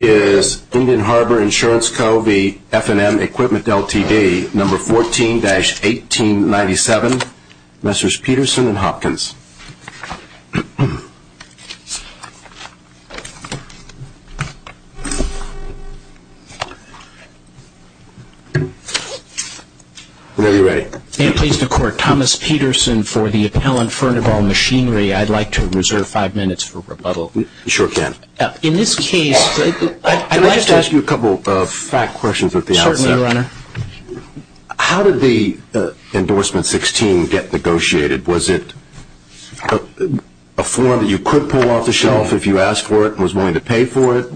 Number 14-1897, Messrs. Peterson and Hopkins. Whenever you're ready. May it please the Court, Thomas Peterson for the appellant, Furnival Machinery. I'd like to reserve five minutes for rebuttal. You sure can. In this case, I'd like to ask you a couple of fact questions at the outset. Certainly, Your Honor. How did the endorsement 16 get negotiated? Was it a form that you could pull off the shelf if you asked for it and was willing to pay for it?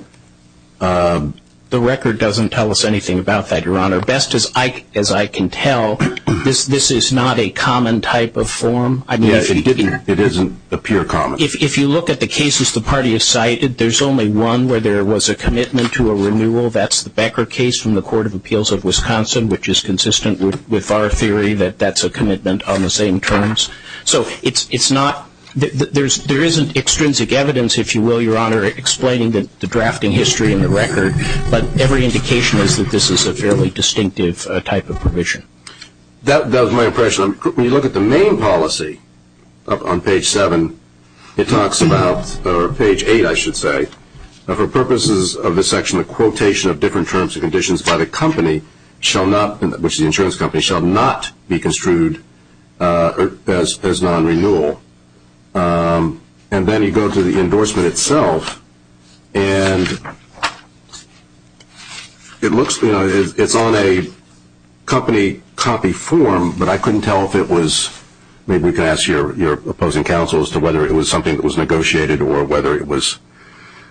The record doesn't tell us anything about that, Your Honor. Best as I can tell, this is not a common type of form. Yes, it isn't a pure common. If you look at the cases the party has cited, there's only one where there was a commitment to a renewal. That's the Becker case from the Court of Appeals of Wisconsin, which is consistent with our theory that that's a commitment on the same terms. So it's not, there isn't extrinsic evidence, if you will, Your Honor, explaining the drafting history in the record. But every indication is that this is a fairly distinctive type of provision. That was my impression. When you look at the main policy on page seven, it talks about, or page eight, I should say, for purposes of this section, the quotation of different terms and conditions by the company shall not, which is the insurance company, shall not be construed as non-renewal. And then you go to the endorsement itself, and it looks, you know, it's on a company copy form, but I couldn't tell if it was, maybe we could ask your opposing counsel as to whether it was something that was negotiated or whether it was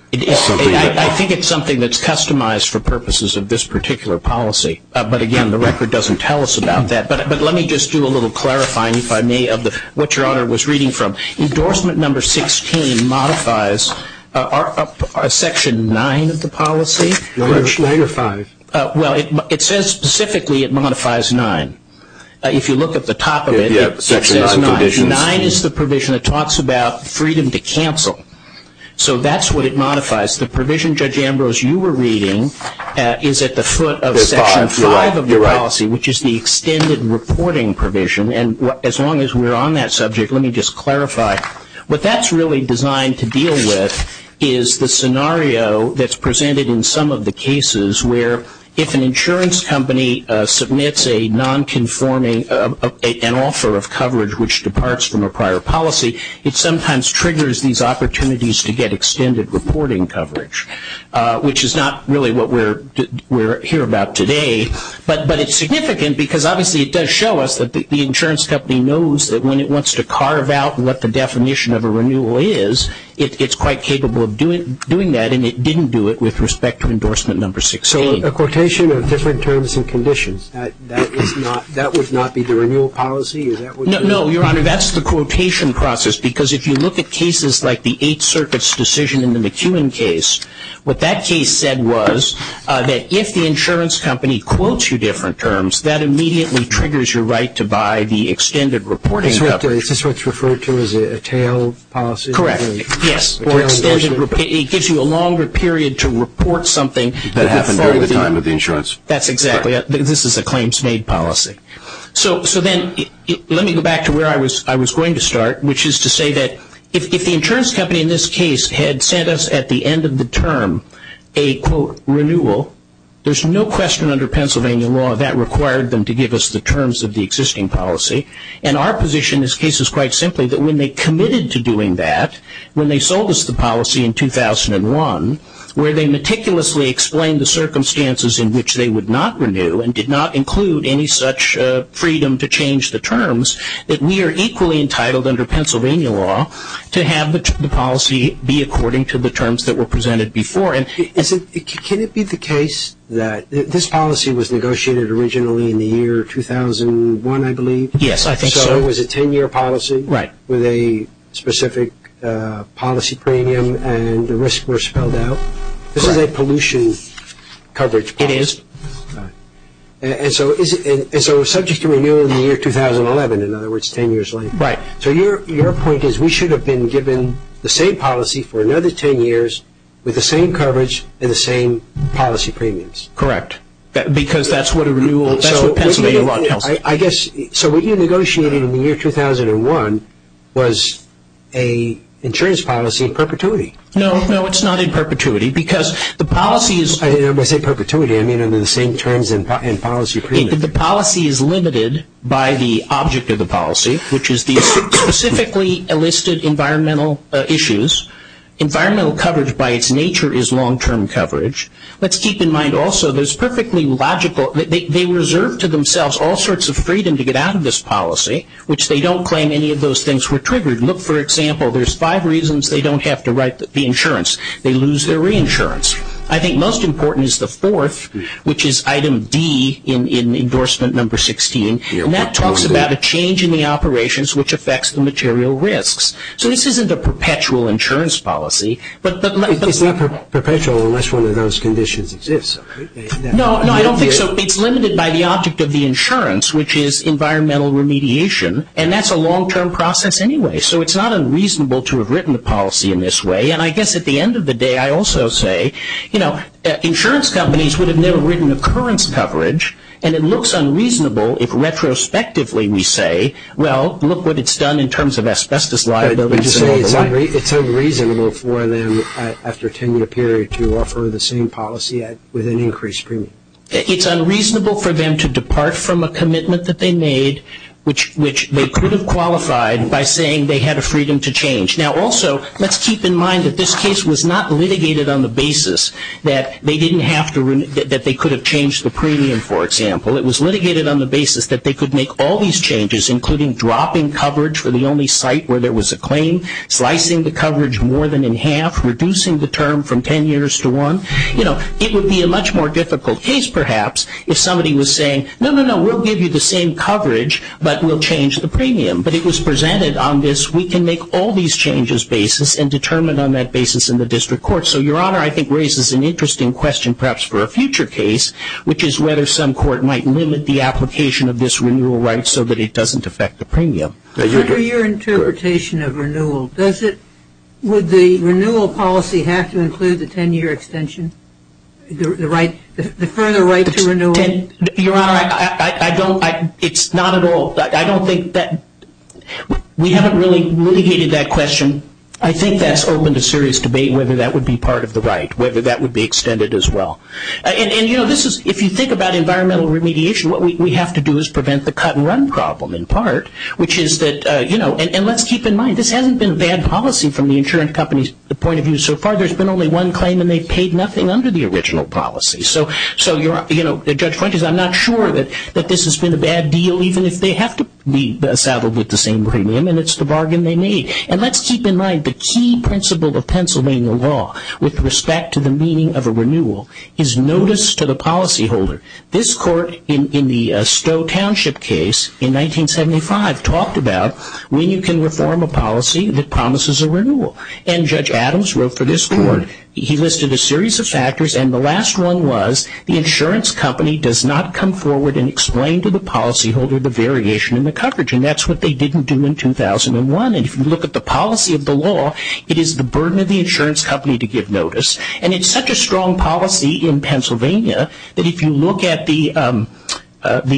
something that was. I think it's something that's customized for purposes of this particular policy. But again, the record doesn't tell us about that. But let me just do a little clarifying, if I may, of what Your Honor was reading from. Endorsement number 16 modifies section nine of the policy. Nine or five. Well, it says specifically it modifies nine. If you look at the top of it, it says nine. Nine is the provision that talks about freedom to cancel. So that's what it modifies. The provision, Judge Ambrose, you were reading is at the foot of section five of the policy, which is the extended reporting provision. And as long as we're on that subject, let me just clarify. What that's really designed to deal with is the scenario that's presented in some of the cases where if an insurance company submits a non-conforming, an offer of coverage which departs from a prior policy, it sometimes triggers these opportunities to get extended reporting coverage, which is not really what we're here about today. But it's significant because obviously it does show us that the insurance company knows that when it wants to carve out what the definition of a renewal is, it's quite capable of doing that, and it didn't do it with respect to endorsement number 16. So a quotation of different terms and conditions, that would not be the renewal policy? No, Your Honor, that's the quotation process. Because if you look at cases like the Eighth Circuit's decision in the McKeown case, what that case said was that if the insurance company quotes you different terms, that immediately triggers your right to buy the extended reporting coverage. Is this what's referred to as a tail policy? Correct, yes. It gives you a longer period to report something. That happened during the time of the insurance. That's exactly it. This is a claims-made policy. So then let me go back to where I was going to start, which is to say that if the insurance company in this case had sent us at the end of the term a, quote, renewal, there's no question under Pennsylvania law that required them to give us the terms of the existing policy. And our position in this case is quite simply that when they committed to doing that, when they sold us the policy in 2001, where they meticulously explained the circumstances in which they would not renew that we are equally entitled under Pennsylvania law to have the policy be according to the terms that were presented before. Can it be the case that this policy was negotiated originally in the year 2001, I believe? Yes, I think so. So it was a ten-year policy? Right. With a specific policy premium and the risks were spelled out? Correct. This is a pollution coverage policy. It is. And so subject to renewal in the year 2011, in other words ten years later? Right. So your point is we should have been given the same policy for another ten years with the same coverage and the same policy premiums? Correct. Because that's what Pennsylvania law tells us. So what you negotiated in the year 2001 was an insurance policy in perpetuity? No, it's not in perpetuity because the policy is When I say perpetuity, I mean under the same terms and policy premiums. The policy is limited by the object of the policy, which is the specifically enlisted environmental issues. Environmental coverage by its nature is long-term coverage. Let's keep in mind also there's perfectly logical, they reserve to themselves all sorts of freedom to get out of this policy, which they don't claim any of those things were triggered. Look, for example, there's five reasons they don't have to write the insurance. They lose their reinsurance. I think most important is the fourth, which is item D in endorsement number 16. And that talks about a change in the operations which affects the material risks. So this isn't a perpetual insurance policy. It's not perpetual unless one of those conditions exists. No, I don't think so. It's limited by the object of the insurance, which is environmental remediation. And that's a long-term process anyway. So it's not unreasonable to have written the policy in this way. And I guess at the end of the day I also say, you know, insurance companies would have never written occurrence coverage, and it looks unreasonable if retrospectively we say, well, look what it's done in terms of asbestos liability. Would you say it's unreasonable for them after a 10-year period to offer the same policy with an increased premium? It's unreasonable for them to depart from a commitment that they made, which they could have qualified by saying they had a freedom to change. Now, also, let's keep in mind that this case was not litigated on the basis that they didn't have to ‑‑ that they could have changed the premium, for example. It was litigated on the basis that they could make all these changes, including dropping coverage for the only site where there was a claim, slicing the coverage more than in half, reducing the term from 10 years to one. You know, it would be a much more difficult case perhaps if somebody was saying, no, no, no, we'll give you the same coverage, but we'll change the premium. But it was presented on this, we can make all these changes basis and determine on that basis in the district court. So, Your Honor, I think raises an interesting question perhaps for a future case, which is whether some court might limit the application of this renewal right so that it doesn't affect the premium. Under your interpretation of renewal, does it ‑‑ would the renewal policy have to include the 10-year extension? The right ‑‑ the further right to renewal? Your Honor, I don't ‑‑ it's not at all ‑‑ I don't think that ‑‑ we haven't really litigated that question. I think that's open to serious debate whether that would be part of the right, whether that would be extended as well. And, you know, this is ‑‑ if you think about environmental remediation, what we have to do is prevent the cut and run problem in part, which is that, you know, and let's keep in mind, this hasn't been a bad policy from the insurance company's point of view so far. There's been only one claim and they've paid nothing under the original policy. So, you know, Judge Fuentes, I'm not sure that this has been a bad deal, even if they have to be saddled with the same premium and it's the bargain they made. And let's keep in mind the key principle of Pennsylvania law with respect to the meaning of a renewal is notice to the policyholder. This court in the Stowe Township case in 1975 talked about when you can reform a policy that promises a renewal. And Judge Adams wrote for this court, he listed a series of factors and the last one was the insurance company does not come forward and explain to the policyholder the variation in the coverage. And that's what they didn't do in 2001. And if you look at the policy of the law, it is the burden of the insurance company to give notice. And it's such a strong policy in Pennsylvania that if you look at the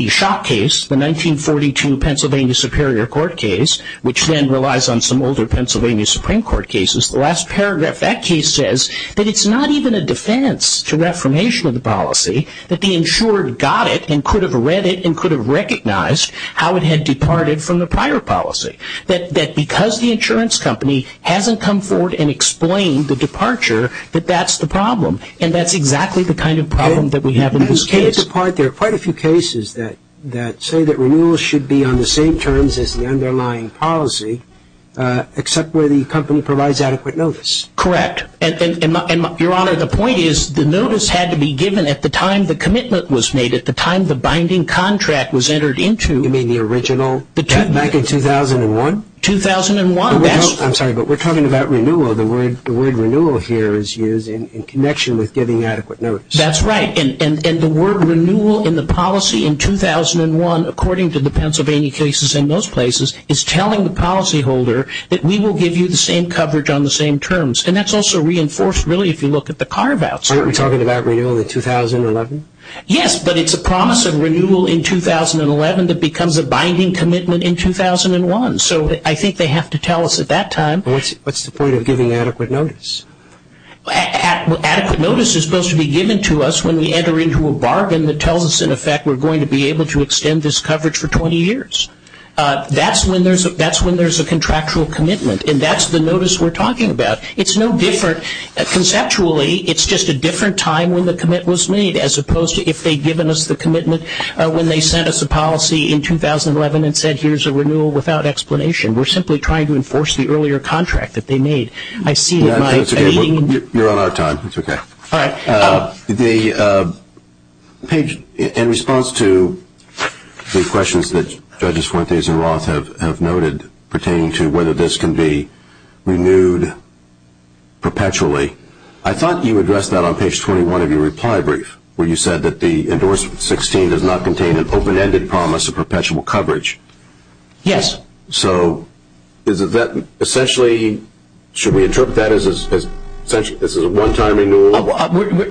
shock case, the 1942 Pennsylvania Superior Court case, which then relies on some older Pennsylvania Supreme Court cases, the last paragraph of that case says that it's not even a defense to reformation of the policy, that the insurer got it and could have read it and could have recognized how it had departed from the prior policy. That because the insurance company hasn't come forward and explained the departure, that that's the problem. And that's exactly the kind of problem that we have in this case. There are quite a few cases that say that renewals should be on the same terms as the underlying policy, except where the company provides adequate notice. Correct. And, Your Honor, the point is the notice had to be given at the time the commitment was made, at the time the binding contract was entered into. You mean the original back in 2001? 2001. I'm sorry, but we're talking about renewal. The word renewal here is used in connection with giving adequate notice. That's right. And the word renewal in the policy in 2001, according to the Pennsylvania cases in most places, is telling the policyholder that we will give you the same coverage on the same terms. And that's also reinforced, really, if you look at the carve-outs. Aren't we talking about renewal in 2011? Yes, but it's a promise of renewal in 2011 that becomes a binding commitment in 2001. So I think they have to tell us at that time. What's the point of giving adequate notice? Adequate notice is supposed to be given to us when we enter into a bargain that tells us, in effect, we're going to be able to extend this coverage for 20 years. That's when there's a contractual commitment. And that's the notice we're talking about. It's no different. Conceptually, it's just a different time when the commit was made, as opposed to if they'd given us the commitment when they sent us a policy in 2011 and said here's a renewal without explanation. We're simply trying to enforce the earlier contract that they made. I see in my meeting. You're on our time. It's okay. All right. In response to the questions that Judges Fuentes and Roth have noted pertaining to whether this can be renewed perpetually, I thought you addressed that on page 21 of your reply brief, where you said that the Endorsement 16 does not contain an open-ended promise of perpetual coverage. Yes. So is that essentially, should we interpret that as essentially this is a one-time renewal?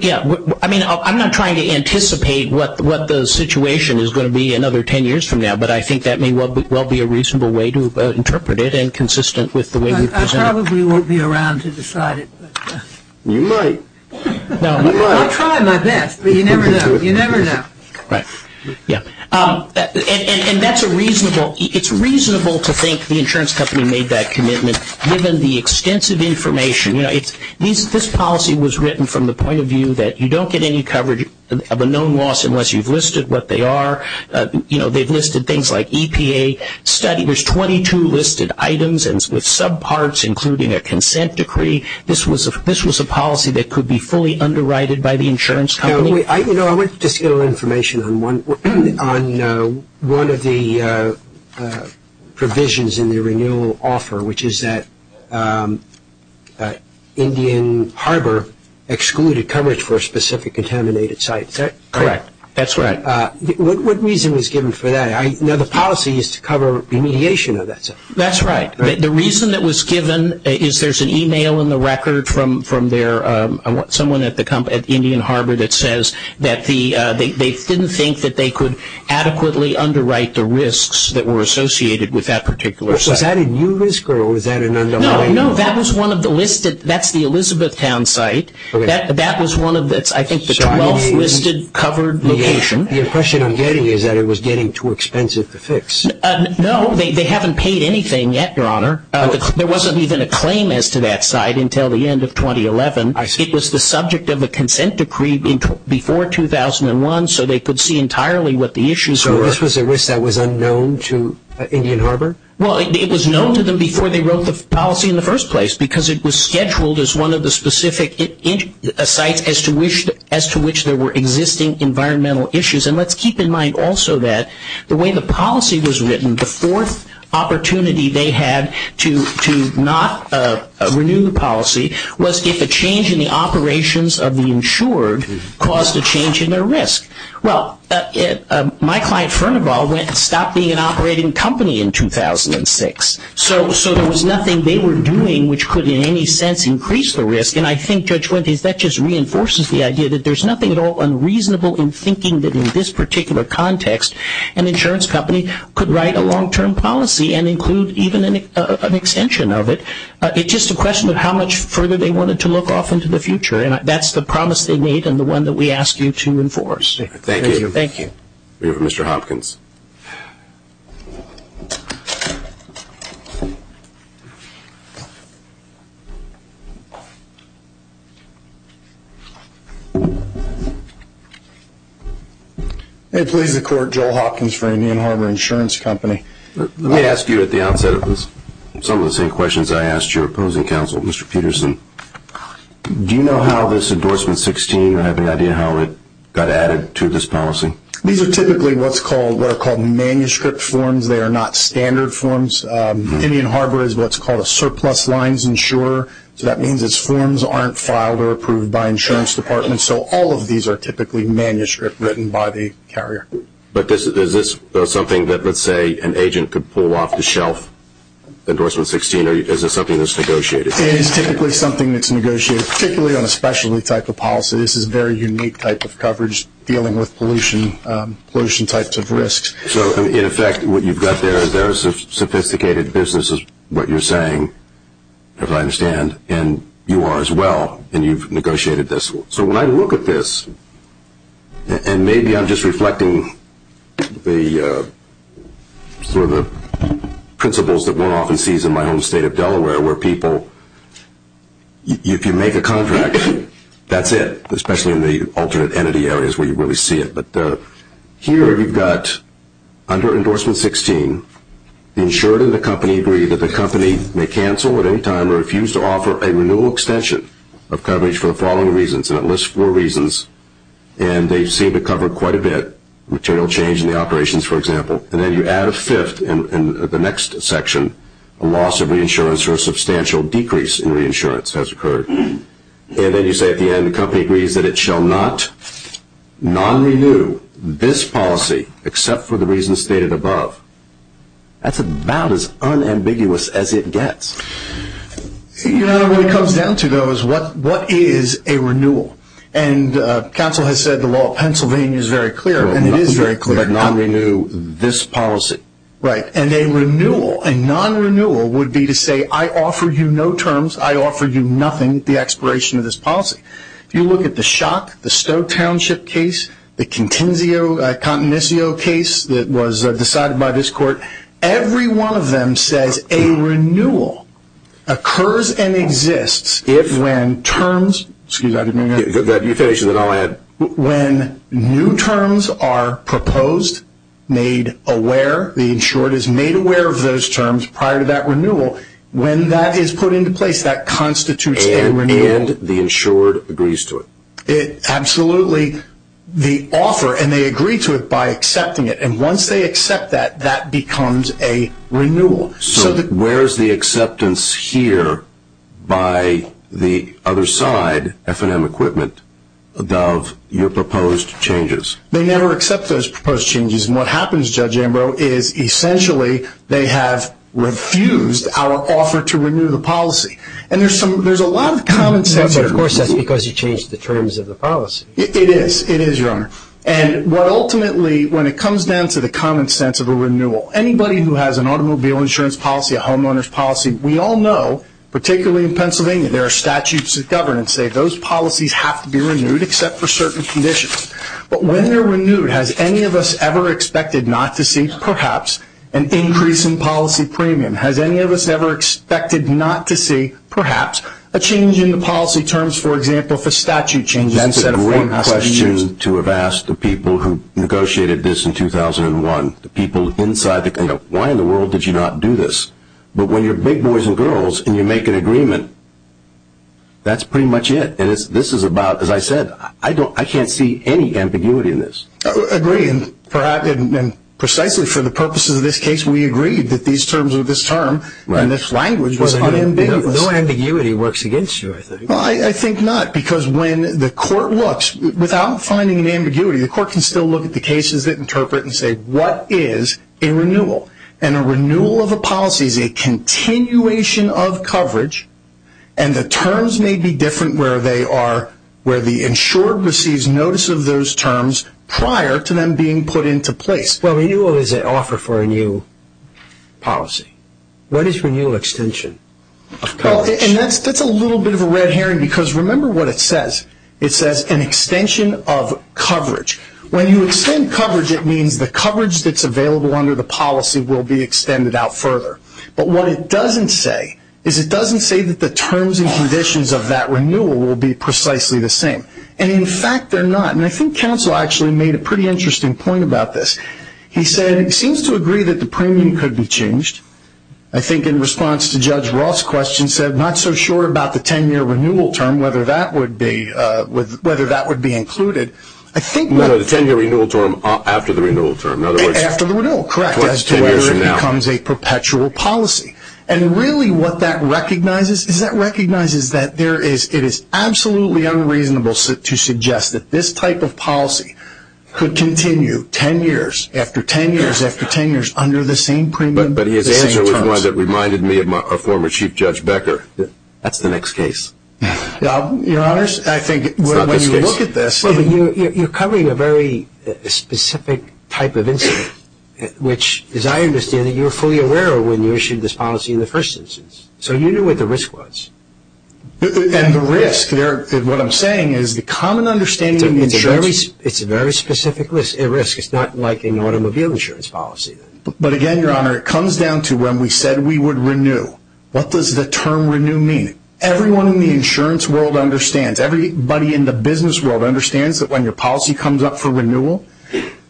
Yeah. I mean, I'm not trying to anticipate what the situation is going to be another ten years from now, but I think that may well be a reasonable way to interpret it and consistent with the way we've presented it. I probably won't be around to decide it. You might. I try my best, but you never know. You never know. Right. Yeah. And that's a reasonable, it's reasonable to think the insurance company made that commitment given the extensive information. You know, this policy was written from the point of view that you don't get any coverage of a known loss unless you've listed what they are. You know, they've listed things like EPA study. There's 22 listed items with subparts including a consent decree. This was a policy that could be fully underwrited by the insurance company. You know, I want to just get a little information on one of the provisions in the renewal offer, which is that Indian Harbor excluded coverage for a specific contaminated site. Is that correct? Correct. That's right. What reason was given for that? Now, the policy is to cover remediation of that. That's right. The reason that was given is there's an email in the record from their, someone at the Indian Harbor that says that they didn't think that they could adequately underwrite the risks that were associated with that particular site. Was that a new risk or was that an underwriting? No, that was one of the listed, that's the Elizabethtown site. That was one of, I think, the 12 listed covered locations. The impression I'm getting is that it was getting too expensive to fix. No, they haven't paid anything yet, Your Honor. There wasn't even a claim as to that site until the end of 2011. I see. It was the subject of a consent decree before 2001, so they could see entirely what the issues were. So this was a risk that was unknown to Indian Harbor? Well, it was known to them before they wrote the policy in the first place because it was scheduled as one of the specific sites as to which there were existing environmental issues. And let's keep in mind also that the way the policy was written, the fourth opportunity they had to not renew the policy was if a change in the operations of the insured caused a change in their risk. Well, my client, Fernaval, went and stopped being an operating company in 2006. So there was nothing they were doing which could in any sense increase the risk. And I think, Judge Wendt, that just reinforces the idea that there's nothing at all unreasonable in thinking that in this particular context an insurance company could write a long-term policy and include even an extension of it. It's just a question of how much further they wanted to look off into the future, and that's the promise they made and the one that we ask you to enforce. Thank you. Thank you. We have Mr. Hopkins. It pleases the Court. Joel Hopkins for Indian Harbor Insurance Company. Let me ask you at the outset of this some of the same questions I asked your opposing counsel, Mr. Peterson. Do you know how this Endorsement 16 or have any idea how it got added to this policy? These are typically what are called manuscript forms. They are not standard forms. Indian Harbor is what's called a surplus lines insurer, so that means its forms aren't filed or approved by insurance departments. So all of these are typically manuscript written by the carrier. But is this something that, let's say, an agent could pull off the shelf, Endorsement 16, or is this something that's negotiated? It is typically something that's negotiated, particularly on a specialty type of policy. This is a very unique type of coverage dealing with pollution types of risks. So, in effect, what you've got there is a sophisticated business is what you're saying, as I understand, and you are as well, and you've negotiated this. So when I look at this, and maybe I'm just reflecting the principles that one often sees in my home state of Delaware where people, if you make a contract, that's it, especially in the alternate entity areas where you really see it. But here you've got, under Endorsement 16, the insurer and the company agree that the company may cancel at any time or refuse to offer a renewal extension of coverage for the following reasons, and it lists four reasons, and they seem to cover quite a bit, material change in the operations, for example. And then you add a fifth in the next section, a loss of reinsurance or a substantial decrease in reinsurance has occurred. And then you say at the end the company agrees that it shall not non-renew this policy except for the reasons stated above. That's about as unambiguous as it gets. You know, when it comes down to those, what is a renewal? And counsel has said the law of Pennsylvania is very clear, and it is very clear. But non-renew this policy. Right. And a renewal, a non-renewal, would be to say I offer you no terms, I offer you nothing at the expiration of this policy. If you look at the Shock, the Stowe Township case, the Contencio case that was decided by this court, every one of them says a renewal occurs and exists if, when terms, excuse me. You finish and then I'll add. When new terms are proposed, made aware, the insured is made aware of those terms prior to that renewal, when that is put into place, that constitutes a renewal. And the insured agrees to it. Absolutely. The offer, and they agree to it by accepting it. And once they accept that, that becomes a renewal. So where is the acceptance here by the other side, F&M Equipment, of your proposed changes? They never accept those proposed changes. And what happens, Judge Ambrose, is essentially they have refused our offer to renew the policy. And there's a lot of common sense here. But, of course, that's because you changed the terms of the policy. It is. It is, Your Honor. Ultimately, when it comes down to the common sense of a renewal, anybody who has an automobile insurance policy, a homeowner's policy, we all know, particularly in Pennsylvania, there are statutes of governance that say those policies have to be renewed except for certain conditions. But when they're renewed, has any of us ever expected not to see, perhaps, an increase in policy premium? Has any of us ever expected not to see, perhaps, a change in the policy terms, for example, for statute changes? This is a great question to have asked the people who negotiated this in 2001, the people inside the committee. Why in the world did you not do this? But when you're big boys and girls and you make an agreement, that's pretty much it. And this is about, as I said, I can't see any ambiguity in this. I agree. And precisely for the purposes of this case, we agreed that these terms of this term and this language was unambiguous. No ambiguity works against you, I think. I think not, because when the court looks, without finding an ambiguity, the court can still look at the cases that interpret and say, what is a renewal? And a renewal of a policy is a continuation of coverage, and the terms may be different where the insured receives notice of those terms prior to them being put into place. Well, renewal is an offer for a new policy. What is renewal extension of coverage? Well, and that's a little bit of a red herring, because remember what it says. It says an extension of coverage. When you extend coverage, it means the coverage that's available under the policy will be extended out further. But what it doesn't say is it doesn't say that the terms and conditions of that renewal will be precisely the same. And, in fact, they're not. And I think counsel actually made a pretty interesting point about this. He said, it seems to agree that the premium could be changed. I think in response to Judge Roth's question, said, not so sure about the 10-year renewal term, whether that would be included. No, the 10-year renewal term after the renewal term. After the renewal, correct, as to whether it becomes a perpetual policy. And really what that recognizes is that recognizes that it is absolutely unreasonable to suggest that this type of policy could continue 10 years, after 10 years, after 10 years, under the same premium. But his answer was one that reminded me of former Chief Judge Becker. That's the next case. Your Honors, I think when you look at this, you're covering a very specific type of incident, which, as I understand it, you were fully aware of when you issued this policy in the first instance. So you knew what the risk was. And the risk, what I'm saying is the common understanding is it's a very specific risk. It's not like an automobile insurance policy. But again, Your Honor, it comes down to when we said we would renew. What does the term renew mean? Everyone in the insurance world understands. Everybody in the business world understands that when your policy comes up for renewal,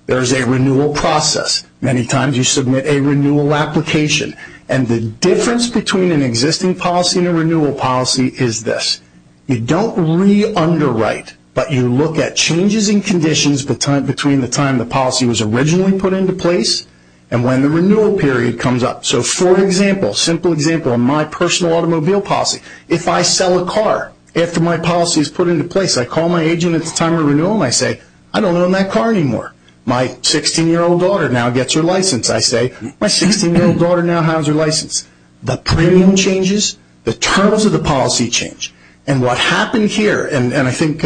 there's a renewal process. Many times you submit a renewal application. And the difference between an existing policy and a renewal policy is this. You don't re-underwrite, but you look at changes in conditions between the time the policy was originally put into place and when the renewal period comes up. So for example, a simple example of my personal automobile policy, if I sell a car after my policy is put into place, I call my agent at the time of renewal and I say, I don't own that car anymore. My 16-year-old daughter now gets her license. I say, my 16-year-old daughter now has her license. The premium changes, the terms of the policy change. And what happened here, and I think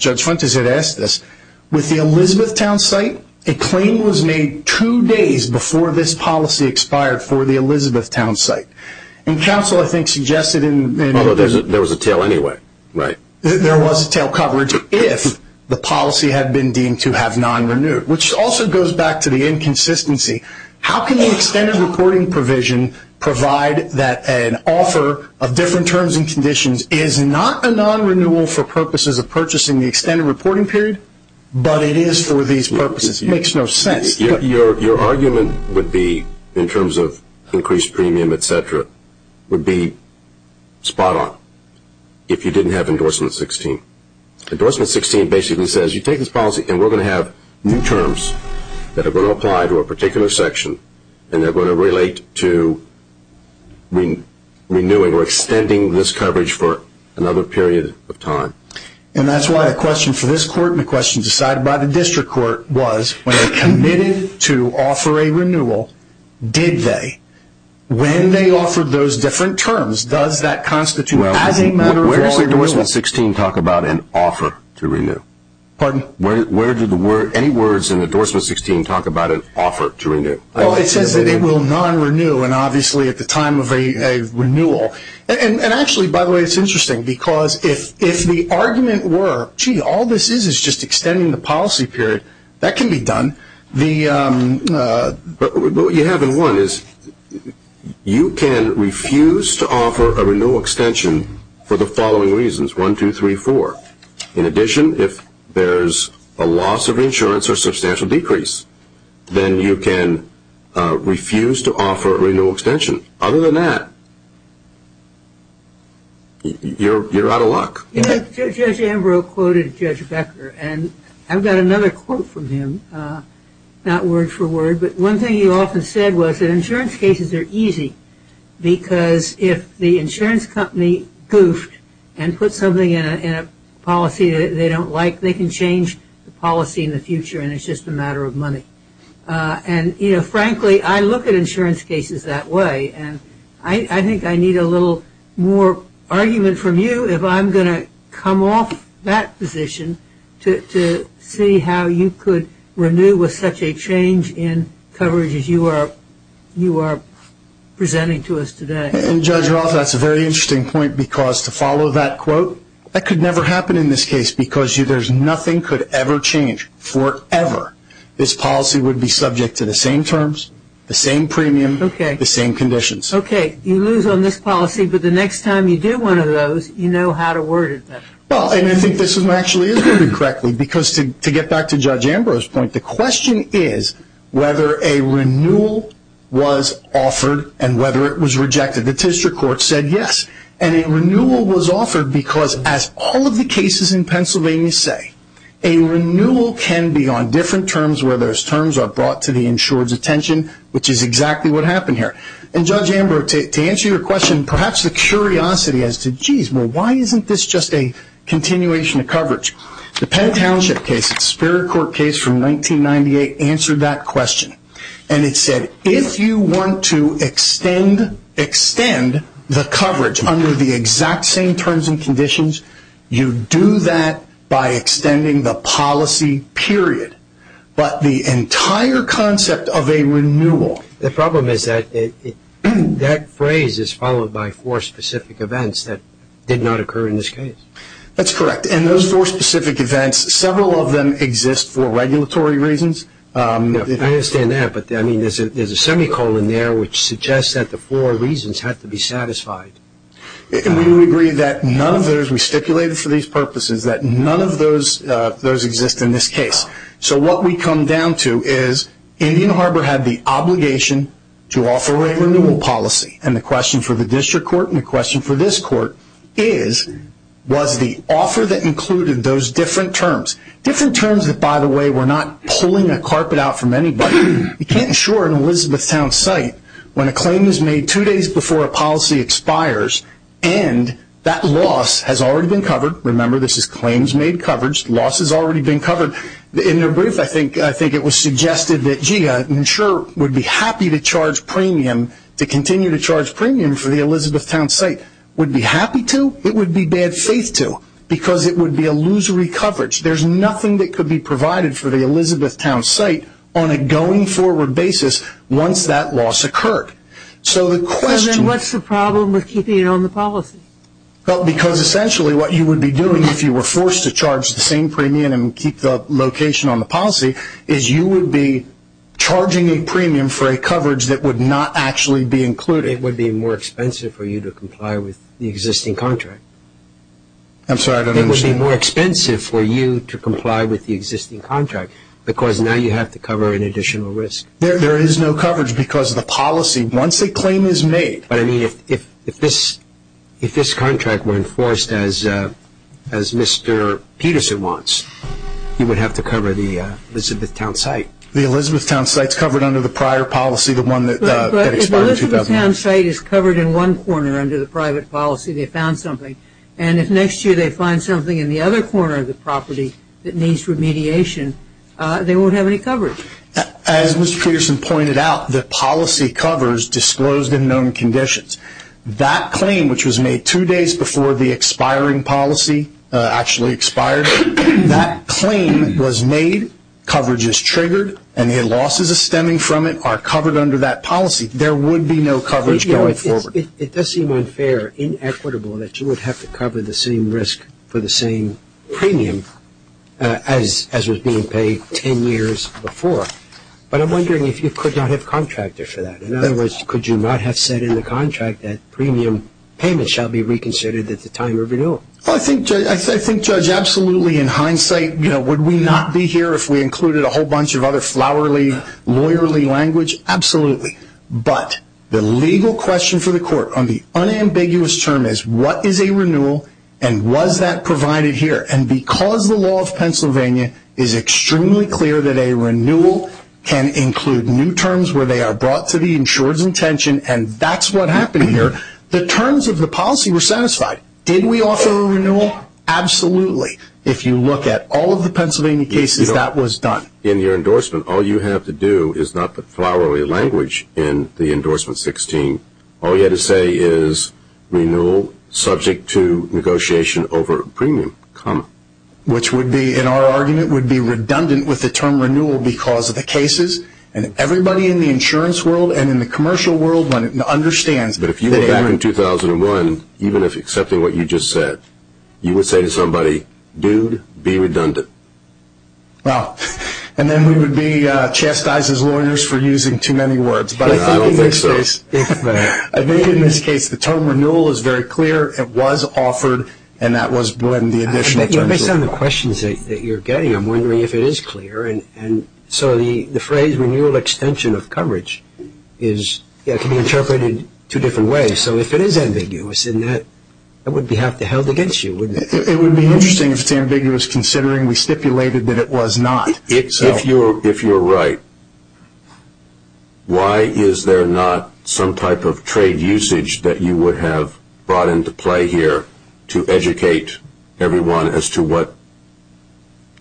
Judge Fuentes had asked this, with the Elizabethtown site, a claim was made two days before this policy expired for the Elizabethtown site. And counsel, I think, suggested in Although there was a tail anyway, right. There was a tail coverage if the policy had been deemed to have non-renewed, which also goes back to the inconsistency. How can the extended reporting provision provide that an offer of different terms and conditions is not a non-renewal for purposes of purchasing the extended reporting period, but it is for these purposes? It makes no sense. Your argument would be, in terms of increased premium, et cetera, would be spot on if you didn't have endorsement 16. Endorsement 16 basically says, you take this policy and we're going to have new terms that are going to apply to a particular section and they're going to relate to renewing or extending this coverage for another period of time. And that's why the question for this court and the question decided by the district court was, when they committed to offer a renewal, did they? When they offered those different terms, does that constitute as a matter of renewal? Where do any words in endorsement 16 talk about an offer to renew? Well, it says that it will non-renew and obviously at the time of a renewal. And actually, by the way, it's interesting because if the argument were, gee, all this is is just extending the policy period, that can be done. But what you have in one is you can refuse to offer a renewal extension for the following reasons, one, two, three, four. In addition, if there's a loss of insurance or substantial decrease, then you can refuse to offer a renewal extension. Other than that, you're out of luck. Judge Ambrose quoted Judge Becker, and I've got another quote from him, not word for word, but one thing he often said was that insurance cases are easy because if the insurance company goofed and put something in a policy they don't like, they can change the policy in the future and it's just a matter of money. And, you know, frankly, I look at insurance cases that way, and I think I need a little more argument from you if I'm going to come off that position to see how you could renew with such a change in coverage as you are presenting to us today. And, Judge Roth, that's a very interesting point because, to follow that quote, that could never happen in this case because nothing could ever change forever. This policy would be subject to the same terms, the same premium, the same conditions. Okay. You lose on this policy, but the next time you do one of those, you know how to word it better. Well, and I think this one actually is worded correctly because, to get back to Judge Ambrose's point, the question is whether a renewal was offered and whether it was rejected. The district court said yes, and a renewal was offered because, as all of the cases in Pennsylvania say, a renewal can be on different terms where those terms are brought to the insured's attention, which is exactly what happened here. And, Judge Ambrose, to answer your question, perhaps the curiosity as to, geez, well, why isn't this just a continuation of coverage? The Penn Township case, it's a spirit court case from 1998, answered that question. And it said, if you want to extend the coverage under the exact same terms and conditions, you do that by extending the policy, period. But the entire concept of a renewal. The problem is that that phrase is followed by four specific events that did not occur in this case. That's correct. And those four specific events, several of them exist for regulatory reasons. I understand that, but, I mean, there's a semicolon there which suggests that the four reasons have to be satisfied. We agree that none of those, we stipulated for these purposes, that none of those exist in this case. So what we come down to is Indian Harbor had the obligation to offer a renewal policy. And the question for the district court and the question for this court is, was the offer that included those different terms, different terms that, by the way, were not pulling a carpet out from anybody. You can't insure an Elizabethtown site when a claim is made two days before a policy expires, and that loss has already been covered. Remember, this is claims made coverage. Loss has already been covered. In their brief, I think it was suggested that GIA insurer would be happy to charge premium, to continue to charge premium for the Elizabethtown site. Would be happy to? It would be bad faith to, because it would be illusory coverage. There's nothing that could be provided for the Elizabethtown site on a going forward basis once that loss occurred. So the question – So then what's the problem with keeping it on the policy? Well, because essentially what you would be doing if you were forced to charge the same premium and keep the location on the policy is you would be charging a premium for a coverage that would not actually be included. It would be more expensive for you to comply with the existing contract. I'm sorry, I don't understand. It would be more expensive for you to comply with the existing contract, because now you have to cover an additional risk. There is no coverage, because the policy, once a claim is made – But, I mean, if this contract were enforced as Mr. Peterson wants, you would have to cover the Elizabethtown site. The Elizabethtown site is covered under the prior policy, the one that expired in 2009. But if the Elizabethtown site is covered in one corner under the private policy, they found something, and if next year they find something in the other corner of the property that needs remediation, they won't have any coverage. As Mr. Peterson pointed out, the policy covers disclosed and known conditions. That claim, which was made two days before the expiring policy actually expired, that claim was made, coverage is triggered, and the losses stemming from it are covered under that policy. There would be no coverage going forward. It does seem unfair, inequitable, that you would have to cover the same risk for the same premium as was being paid 10 years before. But I'm wondering if you could not have contracted for that. In other words, could you not have said in the contract that premium payments shall be reconsidered at the time of renewal? I think, Judge, absolutely, in hindsight, would we not be here if we included a whole bunch of other flowery, lawyerly language? Absolutely. But the legal question for the court on the unambiguous term is, what is a renewal, and was that provided here? And because the law of Pennsylvania is extremely clear that a renewal can include new terms where they are brought to the insurer's intention, and that's what happened here, the terms of the policy were satisfied. Did we offer a renewal? Absolutely. If you look at all of the Pennsylvania cases, that was done. In your endorsement, all you have to do is not put flowery language in the endorsement 16. All you have to say is, renewal subject to negotiation over premium, comma. Which would be, in our argument, would be redundant with the term renewal because of the cases. And everybody in the insurance world and in the commercial world understands. But if you were back in 2001, even if accepting what you just said, you would say to somebody, dude, be redundant. Wow. And then we would be chastised as lawyers for using too many words. I don't think so. I think in this case the term renewal is very clear. It was offered, and that was when the additional terms were brought. Based on the questions that you're getting, I'm wondering if it is clear. And so the phrase renewal extension of coverage can be interpreted two different ways. So if it is ambiguous, then that would be held against you, wouldn't it? It would be interesting if it's ambiguous considering we stipulated that it was not. If you're right, why is there not some type of trade usage that you would have brought into play here to educate everyone as to what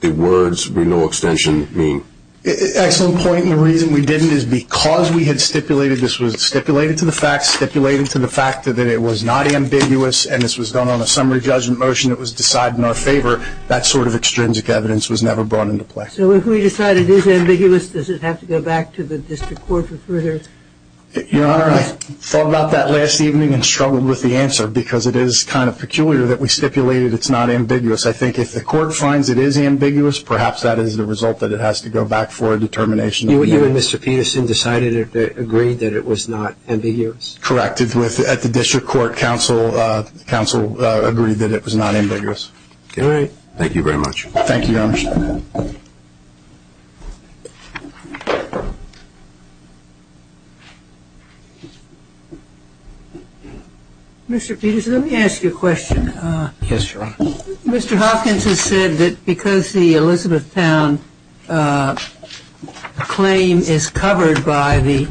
the words renewal extension mean? Excellent point. The reason we didn't is because we had stipulated this was stipulated to the facts, stipulated to the fact that it was not ambiguous, and this was done on a summary judgment motion that was decided in our favor. That sort of extrinsic evidence was never brought into play. So if we decide it is ambiguous, does it have to go back to the district court for further? Your Honor, I thought about that last evening and struggled with the answer because it is kind of peculiar that we stipulated it's not ambiguous. I think if the court finds it is ambiguous, perhaps that is the result that it has to go back for a determination. You and Mr. Peterson decided and agreed that it was not ambiguous. Correct. We acted at the district court. Council agreed that it was not ambiguous. All right. Thank you very much. Thank you, Your Honor. Mr. Peterson, let me ask you a question. Yes, Your Honor. Mr. Hopkins has said that because the Elizabethtown claim is covered by the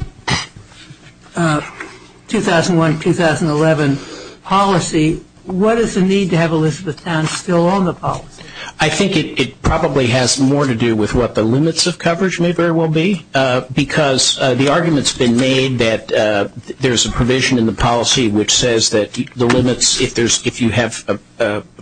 2001-2011 policy, what is the need to have Elizabethtown still on the policy? I think it probably has more to do with what the limits of coverage may very well be because the argument has been made that there is a provision in the policy which says that the limits, if you have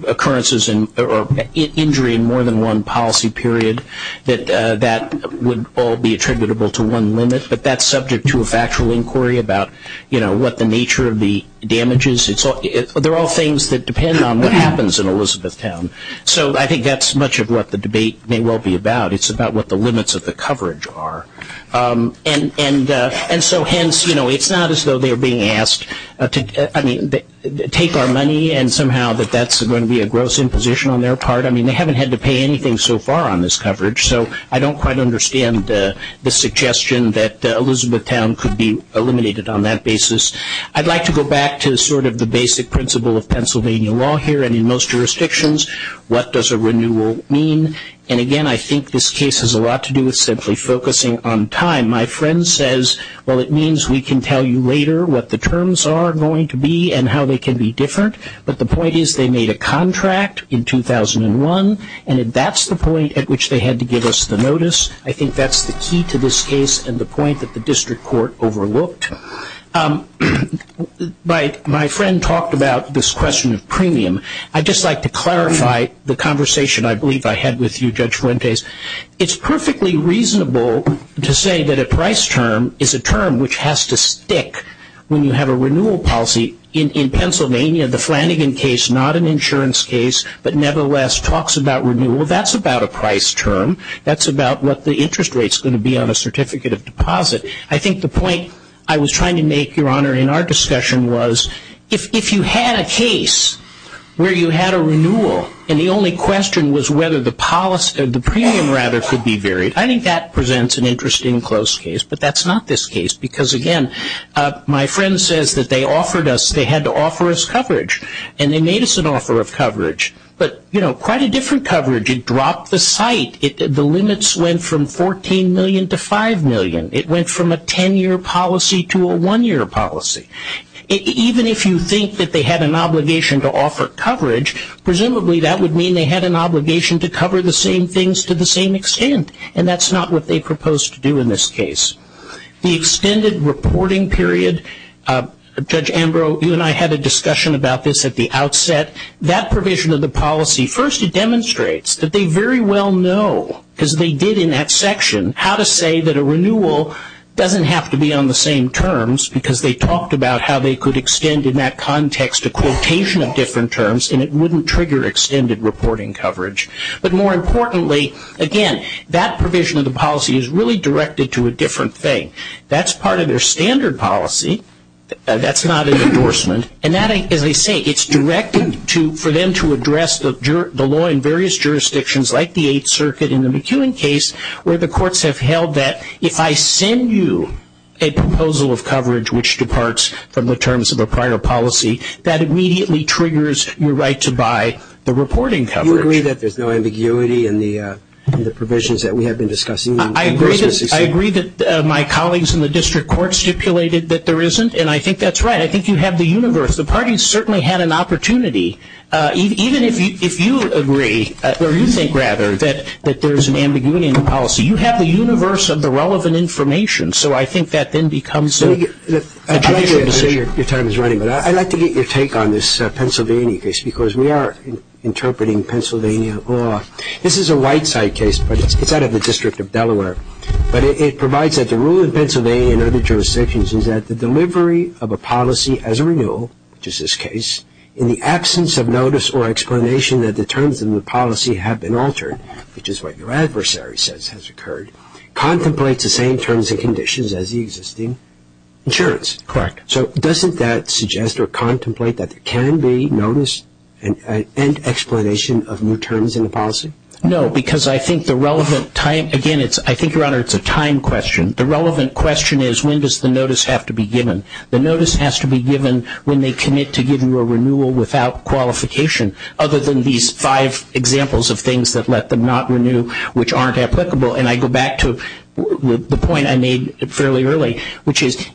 occurrences or injury in more than one policy period, that that would all be attributable to one limit, but that is subject to a factual inquiry about what the nature of the damages. They are all things that depend on what happens in Elizabethtown. So I think that is much of what the debate may well be about. It is about what the limits of the coverage are. And so hence, you know, it is not as though they are being asked to take our money and somehow that that is going to be a gross imposition on their part. I mean, they haven't had to pay anything so far on this coverage, so I don't quite understand the suggestion that Elizabethtown could be eliminated on that basis. I would like to go back to sort of the basic principle of Pennsylvania law here, and in most jurisdictions, what does a renewal mean? And again, I think this case has a lot to do with simply focusing on time. My friend says, well, it means we can tell you later what the terms are going to be and how they can be different, but the point is they made a contract in 2001, and that is the point at which they had to give us the notice. I think that is the key to this case and the point that the district court overlooked. My friend talked about this question of premium. I would just like to clarify the conversation I believe I had with you, Judge Fuentes. It is perfectly reasonable to say that a price term is a term which has to stick when you have a renewal policy in Pennsylvania. The Flanagan case, not an insurance case, but nevertheless talks about renewal. That is about a price term. That is about what the interest rate is going to be on a certificate of deposit. I think the point I was trying to make, Your Honor, in our discussion was if you had a case where you had a renewal and the only question was whether the premium could be varied, I think that presents an interesting close case, but that is not this case because, again, my friend says that they had to offer us coverage, and they made us an offer of coverage, but quite a different coverage. It dropped the site. The limits went from $14 million to $5 million. It went from a 10-year policy to a one-year policy. Even if you think that they had an obligation to offer coverage, presumably that would mean they had an obligation to cover the same things to the same extent, and that is not what they proposed to do in this case. The extended reporting period, Judge Ambrose, you and I had a discussion about this at the outset. That provision of the policy, first it demonstrates that they very well know, because they did in that section, how to say that a renewal doesn't have to be on the same terms because they talked about how they could extend in that context a quotation of different terms and it wouldn't trigger extended reporting coverage. But more importantly, again, that provision of the policy is really directed to a different thing. That's part of their standard policy. That's not an endorsement, and that, as they say, it's directed for them to address the law in various jurisdictions like the Eighth Circuit where the courts have held that if I send you a proposal of coverage which departs from the terms of a prior policy, that immediately triggers your right to buy the reporting coverage. Do you agree that there's no ambiguity in the provisions that we have been discussing? I agree that my colleagues in the district court stipulated that there isn't, and I think that's right. I think you have the universe. The parties certainly had an opportunity. Even if you agree, or you think rather, that there's an ambiguity in the policy, you have the universe of the relevant information, so I think that then becomes a judicial decision. I'd like to get your take on this Pennsylvania case because we are interpreting Pennsylvania law. This is a right-side case, but it's out of the District of Delaware. But it provides that the rule in Pennsylvania and other jurisdictions is that the delivery of a policy as a renewal, which is this case, in the absence of notice or explanation that the terms of the policy have been altered, which is what your adversary says has occurred, contemplates the same terms and conditions as the existing insurance. Correct. So doesn't that suggest or contemplate that there can be notice and explanation of new terms in the policy? No, because I think the relevant time, again, I think, Your Honor, it's a time question. The relevant question is when does the notice have to be given. The notice has to be given when they commit to giving you a renewal without qualification, other than these five examples of things that let them not renew, which aren't applicable. And I go back to the point I made fairly early, which is,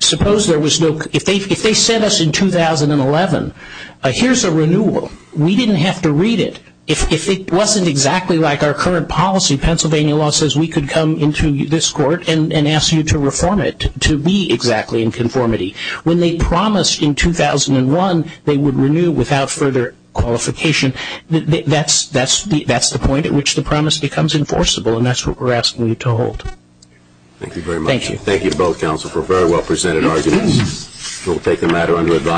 suppose there was no – if they sent us in 2011, here's a renewal. We didn't have to read it. If it wasn't exactly like our current policy, Pennsylvania law says we could come into this court and ask you to reform it to be exactly in conformity. When they promised in 2001 they would renew without further qualification, that's the point at which the promise becomes enforceable, and that's what we're asking you to hold. Thank you very much. Thank you. Thank you both, counsel, for a very well-presented argument. We'll take the matter under advisory.